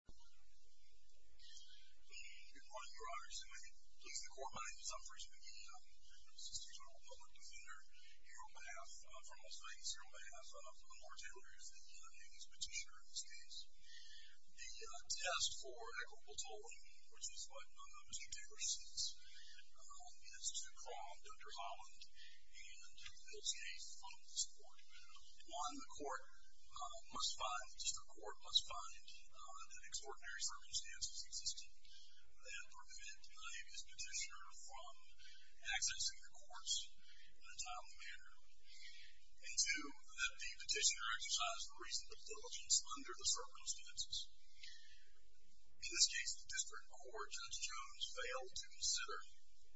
Good morning, your honors. And may it please the court, my name is Humphrey Smigiel, Assistant General Public Defender here on behalf, for most things here on behalf of the Moore-Taylors, the Yankees petitioner in this case. The test for equitable tolling, which is what Chief Taylor sees, is to call Dr. Holland and the LCA from this court. One, the court must find, the district court must find that extraordinary circumstances existent that prevent the naivest petitioner from accessing the courts in a timely manner. And two, that the petitioner exercise the reasonable diligence under the circumstances. In this case, the district court, Judge Jones, failed to consider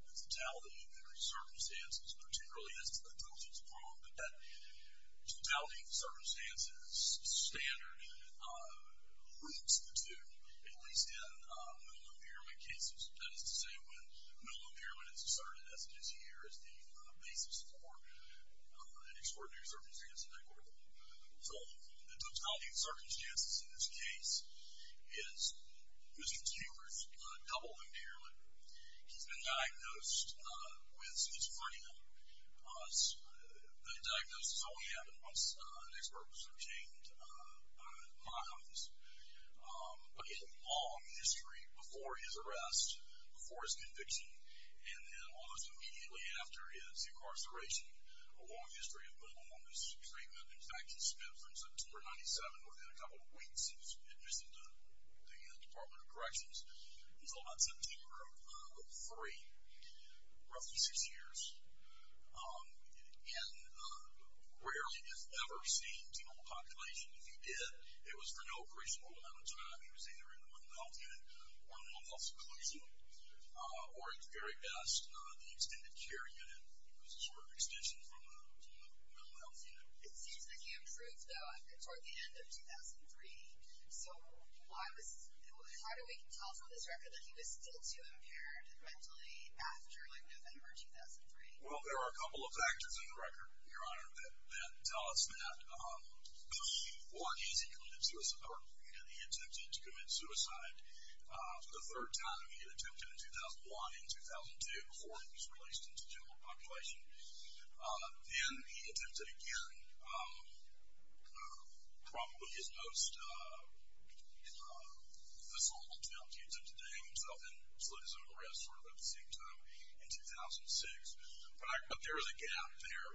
the totality of the circumstances, particularly as to the diligence upon that totality of the circumstances is standard, at least in minimum impairment cases. That is to say, when minimum impairment is asserted, as it is here, is the basis for an extraordinary circumstance in that court. So the totality of circumstances in this case is Mr. Taylor's double minimum impairment. He's been diagnosed with schizophrenia. The diagnosis only happened once an expert was obtained by my office. But he had a long history before his arrest, before his conviction, and then almost immediately after his incarceration, a long history of going on this treatment. In fact, he spent from September 1997, within a couple of weeks, he was admitted to the Department of Corrections. He was held on September 3, roughly six years, and rarely if ever seen to normal population. If he did, it was for no appraisal at the time. He was either in the mental health unit or mental health inclusion, or at the very best, the extended care unit. It was a short extension from the mental health unit. It seems that he improved, though, toward the end of 2003. So how do we tell from this record that he was still too impaired mentally after, like, November 2003? Well, there are a couple of factors in the record, Your Honor, that tell us that. One is he committed suicide. He attempted to commit suicide the third time. He attempted in 2001 and 2002 before he was released into general population. Then he attempted again, probably his most visceral attempt. He attempted to hang himself and slit his own wrists sort of at the same time in 2006. But there is a gap there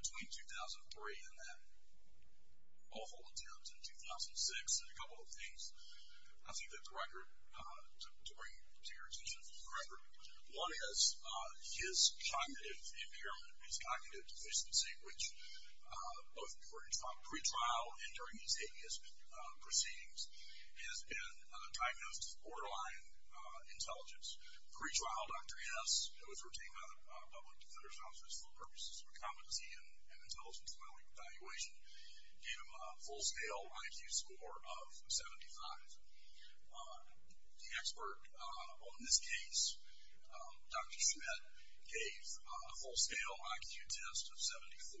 between 2003 and that awful attempt in 2006. There's a couple of things I think that's right to bring to your attention from the record. One is his cognitive impairment, his cognitive deficiency, which both during pre-trial and during his ABS proceedings, he has been diagnosed with borderline intelligence. Pre-trial, Dr. Hess, who was retained by the Public Defender's Office for purposes of competency and intelligence evaluation, gave him a full-scale IQ score of 75. The expert on this case, Dr. Schmidt, gave a full-scale IQ test of 79.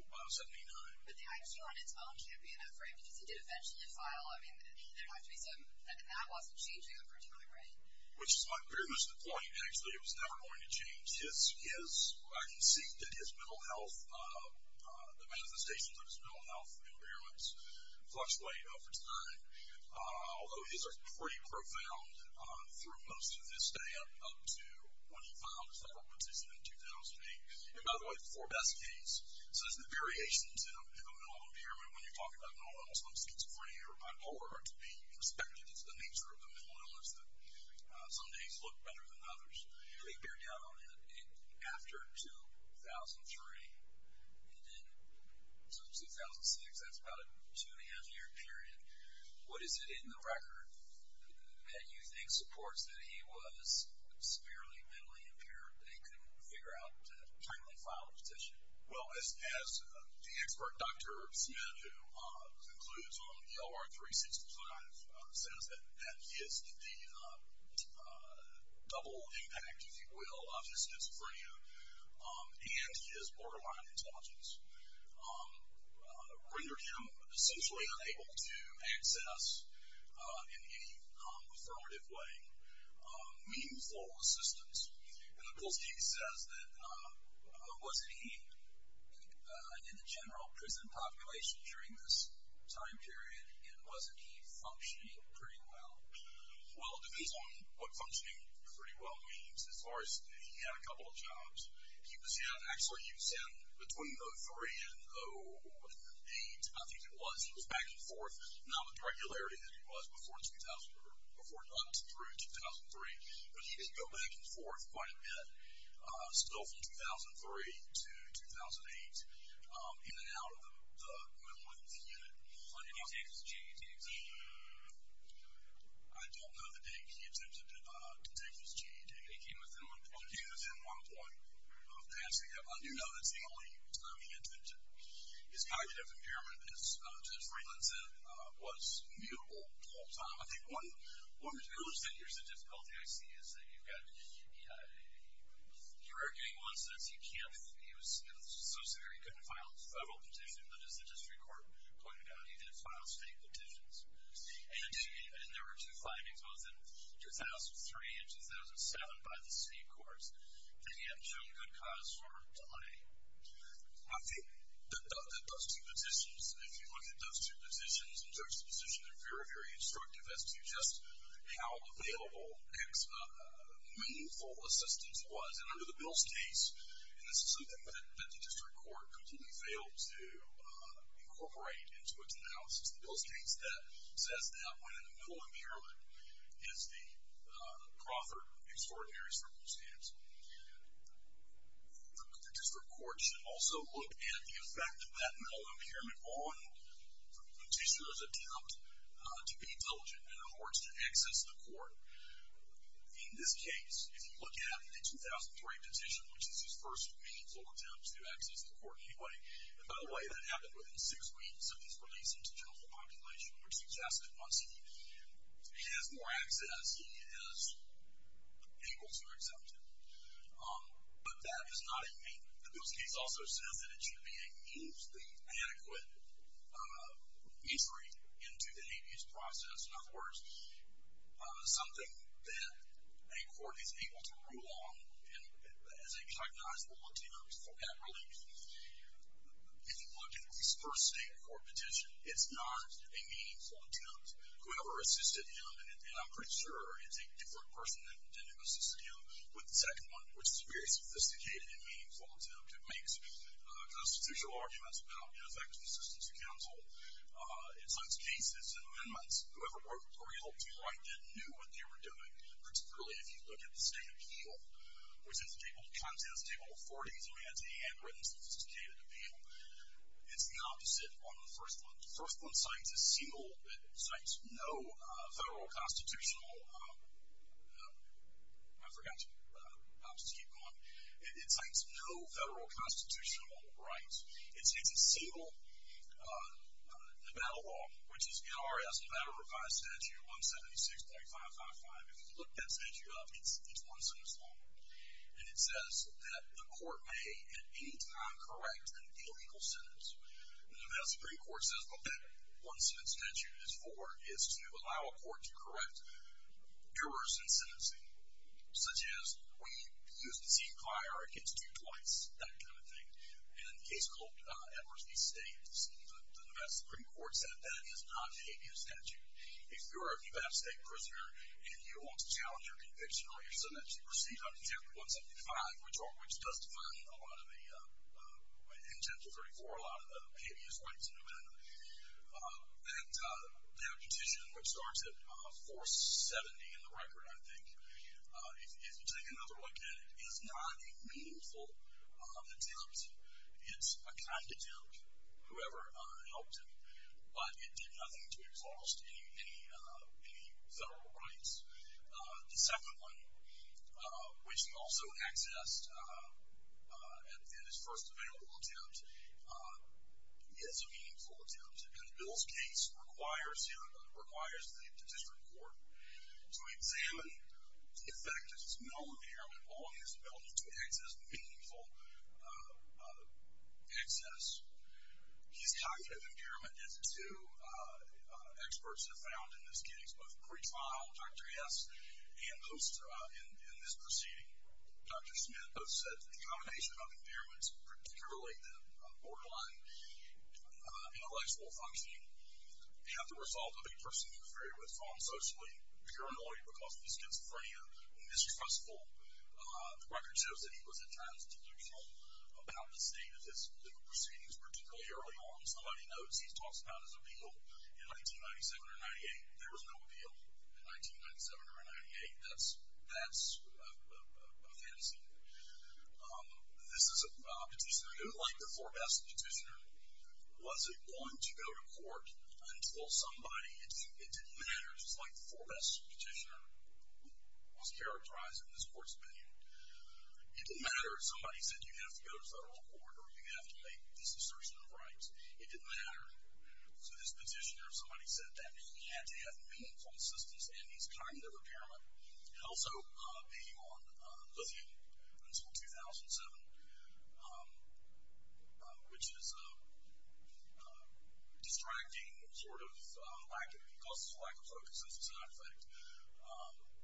But the IQ on its own can't be enough for him because he did eventually defile. I mean, there'd have to be some... And that wasn't changing over time, right? Which is pretty much the point, actually. It was never going to change. I can see that his mental health, the manifestations of his mental health and awareness fluctuate over time. Although his was pretty profound through most of his stay up to when he filed his federal petition in 2008. And by the way, the four best cases. So there's the variations in a mental impairment when you're talking about normal levels of schizophrenia or bipolar to be expected, it's the nature of the mental illness that some days look better than others. And they bear down on it after 2003. So 2006, that's about a two-and-a-half-year period. What is it in the record that you think supports that he was severely mentally impaired and couldn't figure out to finally file a petition? Well, as the expert, Dr. Schmidt, who concludes on the OR365, says that he is the double impact, if you will, of schizophrenia. And his borderline intelligence rendered him essentially unable to access in any affirmative way meaningful assistance. And the post-case says that was he in the general prison population during this time period, and wasn't he functioning pretty well? Well, it depends on what functioning pretty well means. As far as he had a couple of jobs, he was in, actually, he was in between 03 and 08, I think it was. He was back and forth, not with regularity as he was before 2003, but he did go back and forth quite a bit, still from 2003 to 2008, in and out of the mental illness unit. Did he take his GED? I don't know that he attempted to take his GED. He came within one point of passing it. I do know that's the only time he attempted. His cognitive impairment, as Dr. Freeland said, was mutable the whole time. I think one of the issues that here's the difficulty I see is that you've got, you're arguing one says he can't, he was so severe, he couldn't file a federal petition, but as the district court pointed out, he did file state petitions. And there were two findings, both in 2003 and 2007 by the state courts, that he hadn't shown good cause for delay. I think that those two positions, if you look at those two positions and judge the position, they're very, very instructive as to just how available and meaningful assistance was. And under the Mills case, and this is something that the district court completely failed to incorporate into its analysis, the Mills case that says that when an impairment is the proffered extraordinary circumstance. The district court should also look at the effect of that mental impairment on the petitioner's attempt to be diligent in order to access the court. In this case, if you look at the 2003 petition, which is his first meaningful attempt to access the court anyway. And by the way, that happened within six weeks of his release into general population, which suggests that once he has more access, he is able to accept it. But that is not a main, the Mills case also says that it should be a means, the adequate entry into the abuse process. In other words, something that a court is able to rule on as a cognizable attempt at relief. If you look at his first state court petition, it's not a meaningful attempt. Whoever assisted him, and I'm pretty sure it's a different person than who assisted him with the second one, which is a very sophisticated and meaningful attempt. It makes constitutional arguments about ineffective assistance to counsel. It sets cases and amendments. Whoever helped him write them knew what they were doing, particularly if you look at the state appeal, which is a table of contents, a table of 40s, and we had handwritten, sophisticated appeal. It's the opposite on the first one. The first one cites a single, it cites no federal constitutional, I forgot to keep going. It cites no federal constitutional right. It's a single Nevada law, which is NRS, Nevada Revised Statute 176.555. If you look that statute up, it's one sentence longer, and it says that the court may at any time correct an illegal sentence. The Nevada Supreme Court says what that one-sentence statute is for is to allow a court to correct errors in sentencing, such as when you use the same fire against you twice, that kind of thing. In a case called Evers V. States, the Nevada Supreme Court said that is not an appeal statute. If you're a Nevada State prisoner, and you want to challenge your conviction or your sentence, you proceed under Statute 175, which does define a lot of the intent of 34, a lot of the habeas rights in Nevada. That petition, which starts at 470 in the record, I think, if you take another look at it, is not a meaningful attempt. It's a conduct attempt, whoever helped him. But it did nothing to exhaust any federal rights. The second one, which he also accessed in his first available attempt, is a meaningful attempt. In Bill's case, it requires the district court to examine the effect of his mental impairment on his ability to access meaningful access. His cognitive impairment is, too, experts have found in this case, both pre-trial, Dr. S., and in this proceeding, Dr. Smith, have said that the combination of impairments, particularly the borderline intellectual functioning, and the result of a person who's very withdrawn socially, if you're annoyed because of his schizophrenia, mistrustful, the record shows that he was attempting to do wrong about the state of his legal proceedings, particularly early on. Somebody notes he talks about his appeal in 1997 or 98. There was no appeal in 1997 or 98. That's a fantasy. This is a petitioner who, like the Forbest petitioner, wasn't going to go to court until somebody, it didn't matter, just like the Forbest petitioner was characterized in this court's opinion, it didn't matter if somebody said you have to go to federal court or you have to make this assertion of rights. It didn't matter. So this petitioner, if somebody said that, he had to have meaningful assistance in his cognitive impairment, and also being on lithium until 2007, which is a distracting sort of lack of, it causes a lack of focus and a side effect.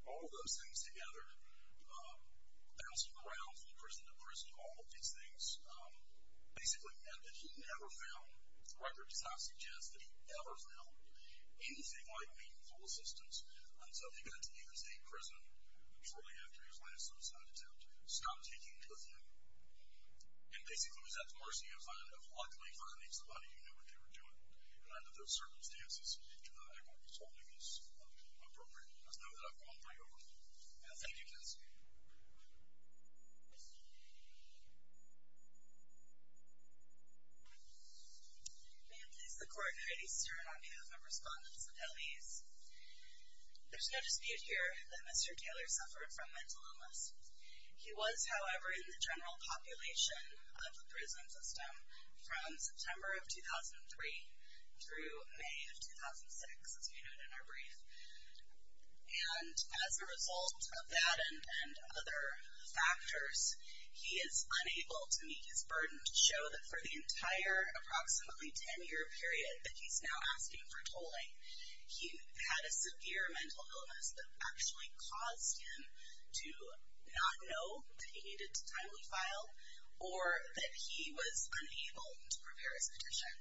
All of those things together, bouncing around from prison to prison, all of these things, basically meant that he never found, the record does not suggest that he ever found, anything like meaningful assistance until he got to New York State Prison shortly after his last suicide attempt, stopped taking lithium, and basically was at the mercy of luckily finding somebody who knew what they were doing. And under those circumstances, I think what he's holding is appropriate. Let's move that one right over. Thank you, Cassie. May it please the Court, Heidi Stern on behalf of Respondents of L.E.A.S. There's no dispute here that Mr. Taylor suffered from mental illness. He was, however, in the general population of the prison system from September of 2003 through May of 2006, as we noted in our brief. And as a result of that and other factors, he is unable to meet his burden. To show that for the entire approximately 10-year period that he's now asking for tolling, he had a severe mental illness that actually caused him to not know that he needed to timely file, or that he was unable to prepare his petition.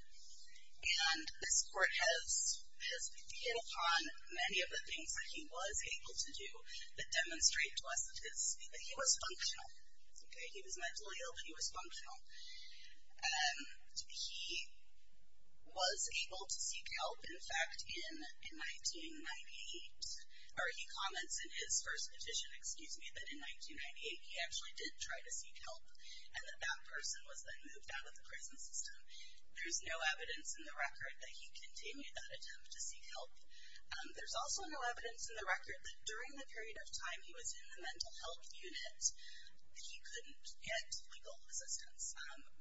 And this Court has hit upon many of the things that he was able to do that demonstrate to us that he was functional. He was mentally ill, but he was functional. He was able to seek help, in fact, in 1998. Or he comments in his first petition, excuse me, that in 1998 he actually did try to seek help, and that that person was then moved out of the prison system. There's no evidence in the record that he continued that attempt to seek help. There's also no evidence in the record that during the period of time he was in the mental health unit, he couldn't get legal assistance.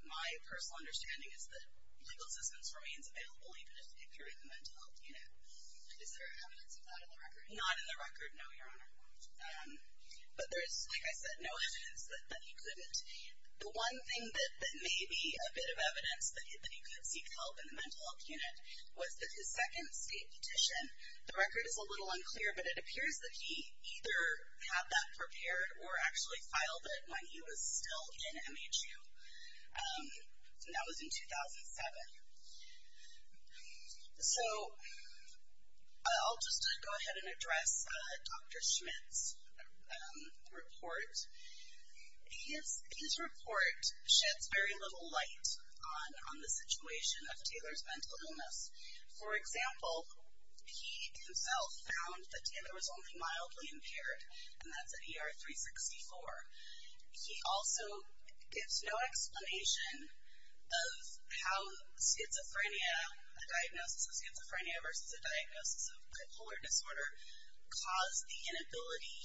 My personal understanding is that legal assistance remains available even if you're in the mental health unit. Is there evidence of that in the record? Not in the record, no, Your Honor. But there is, like I said, no evidence that he couldn't. The one thing that may be a bit of evidence that he could seek help in the mental health unit was that his second state petition. The record is a little unclear, but it appears that he either had that prepared or actually filed it when he was still in MHU. And that was in 2007. So I'll just go ahead and address Dr. Schmidt's report. His report sheds very little light on the situation of Taylor's mental illness. For example, he himself found that Taylor was only mildly impaired, and that's at ER 364. He also gives no explanation of how schizophrenia, a diagnosis of schizophrenia versus a diagnosis of bipolar disorder, caused the inability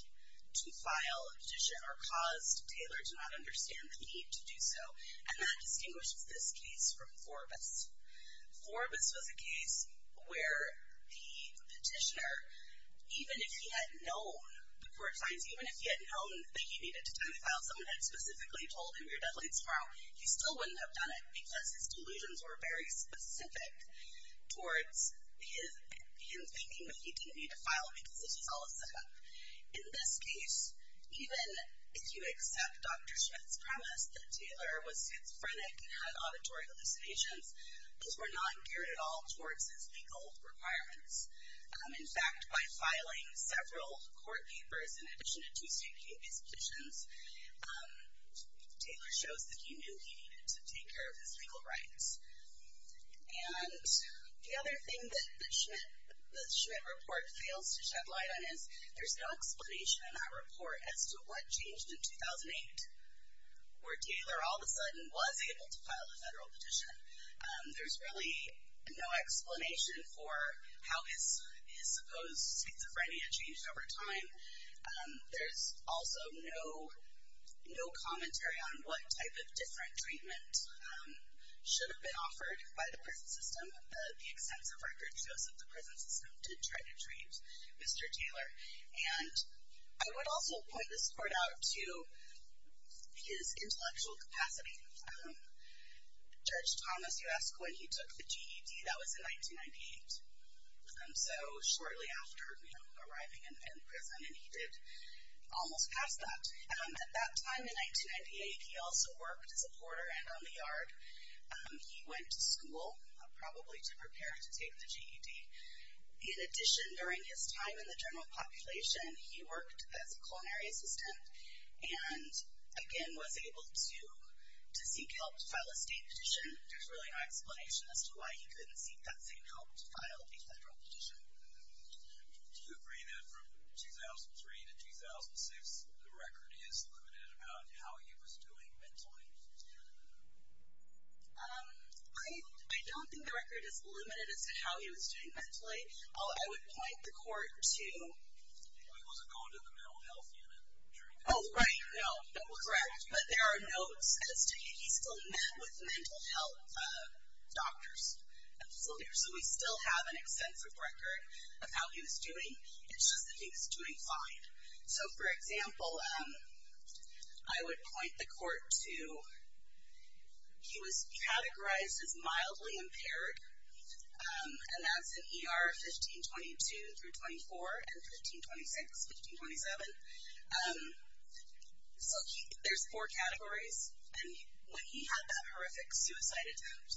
to file a petition or caused Taylor to not understand the need to do so. And that distinguishes this case from Forbis. Forbis was a case where the petitioner, even if he had known, the court finds, even if he had known that he needed to do the filing, someone had specifically told him, you're deadly tomorrow, he still wouldn't have done it because his delusions were very specific towards him thinking that he didn't need to file because this was all a setup. In this case, even if you accept Dr. Schmidt's premise that Taylor was schizophrenic and had auditory hallucinations, those were not geared at all towards his legal requirements. In fact, by filing several court papers, in addition to two state case petitions, Taylor shows that he knew he needed to take care of his legal rights. And the other thing that the Schmidt report fails to shed light on is there's no explanation in that report as to what changed in 2008 where Taylor all of a sudden was able to file a federal petition. There's really no explanation for how his supposed schizophrenia changed over time. There's also no commentary on what type of different treatment should have been offered by the prison system. The extensive records show that the prison system did try to treat Mr. Taylor. And I would also point this court out to his intellectual capacity. Judge Thomas, you asked when he took the GED. That was in 1998, so shortly after arriving in prison, and he did almost pass that. At that time in 1998, he also worked as a porter and on the yard. He went to school, probably to prepare to take the GED. In addition, during his time in the general population, he worked as a culinary assistant and, again, was able to seek help to file a state petition. There's really no explanation as to why he couldn't seek that same help to file a federal petition. Do you agree that from 2003 to 2006, the record is limited about how he was doing mentally? I don't think the record is limited as to how he was doing mentally. I would point the court to... Oh, right, no, correct. But there are notes as to if he still met with mental health doctors. So we still have an extensive record of how he was doing. It's just that he was doing fine. So, for example, I would point the court to... He was categorized as mildly impaired, and that's in ER 1522-24 and 1526-1527. So there's four categories. When he had that horrific suicide attempt,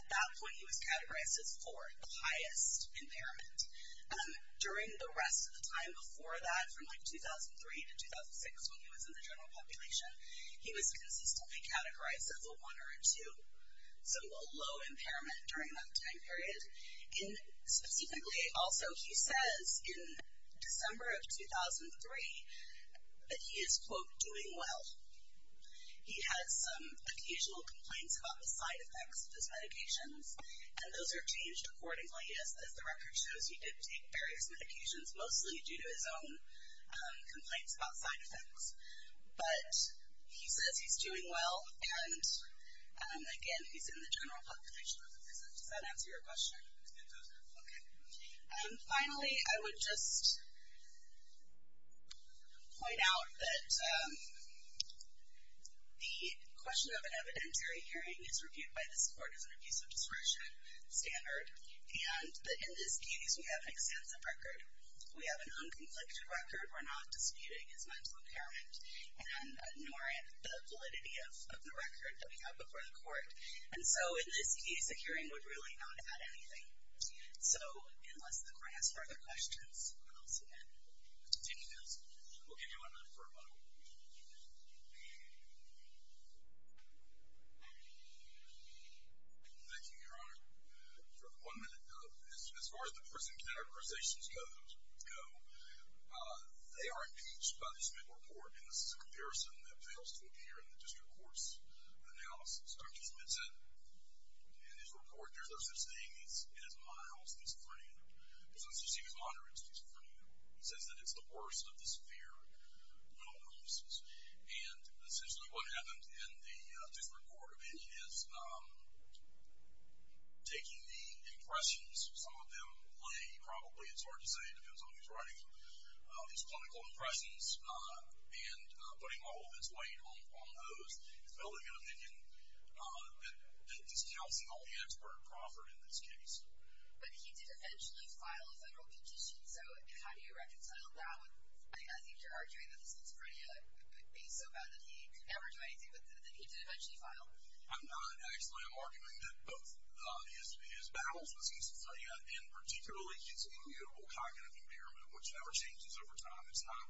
at that point he was categorized as four, the highest impairment. During the rest of the time before that, from, like, 2003 to 2006, when he was in the general population, he was consistently categorized as a one or a two, so a low impairment during that time period. Specifically, also, he says in December of 2003 that he is, quote, doing well. He had some occasional complaints about the side effects of his medications, and those are changed accordingly, as the record shows he did take various medications, mostly due to his own complaints about side effects. But he says he's doing well, and, again, he's in the general population. Does that answer your question? It does. Okay. Finally, I would just point out that the question of an evidentiary hearing is reviewed by this court as an abuse of discretion standard, and that in this case we have an extensive record. We have an unconflicted record. We're not disputing his mental impairment, nor the validity of the record that we have before the court. And so in this case, a hearing would really not add anything. So unless the court has further questions, I'll see you then. Thank you. We'll give you one minute for a model. Thank you, Your Honor. For the one minute. As far as the prison categorizations go, they are impeached by the Smith Report, and this is a comparison that fails to appear in the district court's analysis. Dr. Smith said in his report there's no such thing as mild schizophrenia. There's no such thing as moderate schizophrenia. He says that it's the worst of the severe mental illnesses. And essentially what happened in the district court opinion is, taking the impressions some of them lay, he probably, it's hard to say, depends on who's writing them, his clinical impressions, and putting all of his weight on those, he's building an opinion that is counting all the expert proffered in this case. But he did eventually file a federal petition. So how do you reconcile that with, I think you're arguing that schizophrenia could be so bad that he could never do anything, but that he did eventually file? I'm not. Actually, I'm arguing that both his battles with schizophrenia, and particularly his immutable cognitive impairment, which never changes over time, it's not,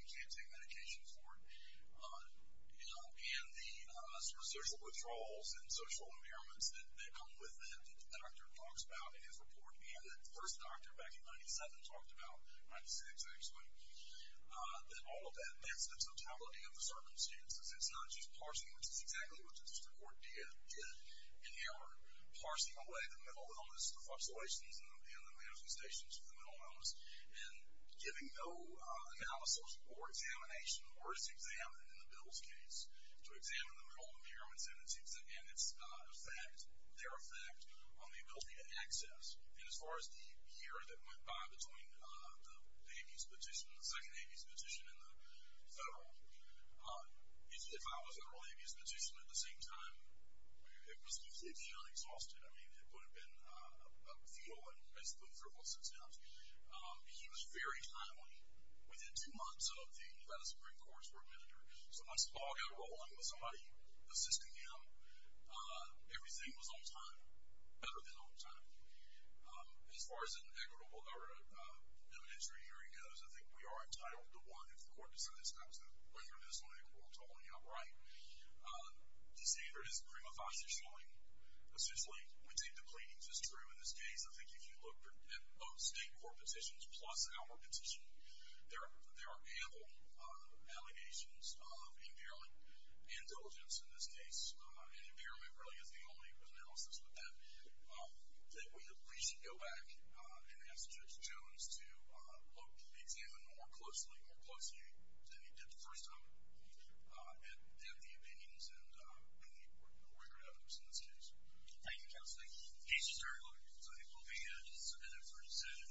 you can't take medications for it, and the sort of social withdrawals and social impairments that come with that, that the doctor talks about in his report, and that the first doctor back in 97 talked about, 96 actually, that all of that, that's the totality of the circumstances. It's not just parsing, which is exactly what the district court did in error, parsing away the mental illness, the fluctuations in the management stations of the mental illness, and giving no analysis or examination, or is examined in the Bill's case, to examine the mental impairments and its effect, their effect on the ability to access. And as far as the year that went by between the Avis petition, the second Avis petition and the federal, if I was in an early Avis petition at the same time, it was completely unexhausted. I mean, it would have been a feel, and it's been for about six months. He was very timely. Within two months of the Nevada Supreme Court's word, so once the ball got rolling with somebody assisting him, everything was on time, better than on time. As far as an equitable or an evidentiary hearing goes, I think we are entitled to one if the court decides not to render this unequal to only outright. The standard is prima facie showing, essentially, we take the pleadings as true in this case. I think if you look at both state court petitions plus our petition, there are ample allegations of impairment and diligence in this case, and impairment really is the only analysis with that. We should go back and ask Judge Jones to examine more closely, more closely than he did the first time at the opinions and the record evidence in this case. Thank you, Counselor. Thank you, sir. We'll be in it for a decision.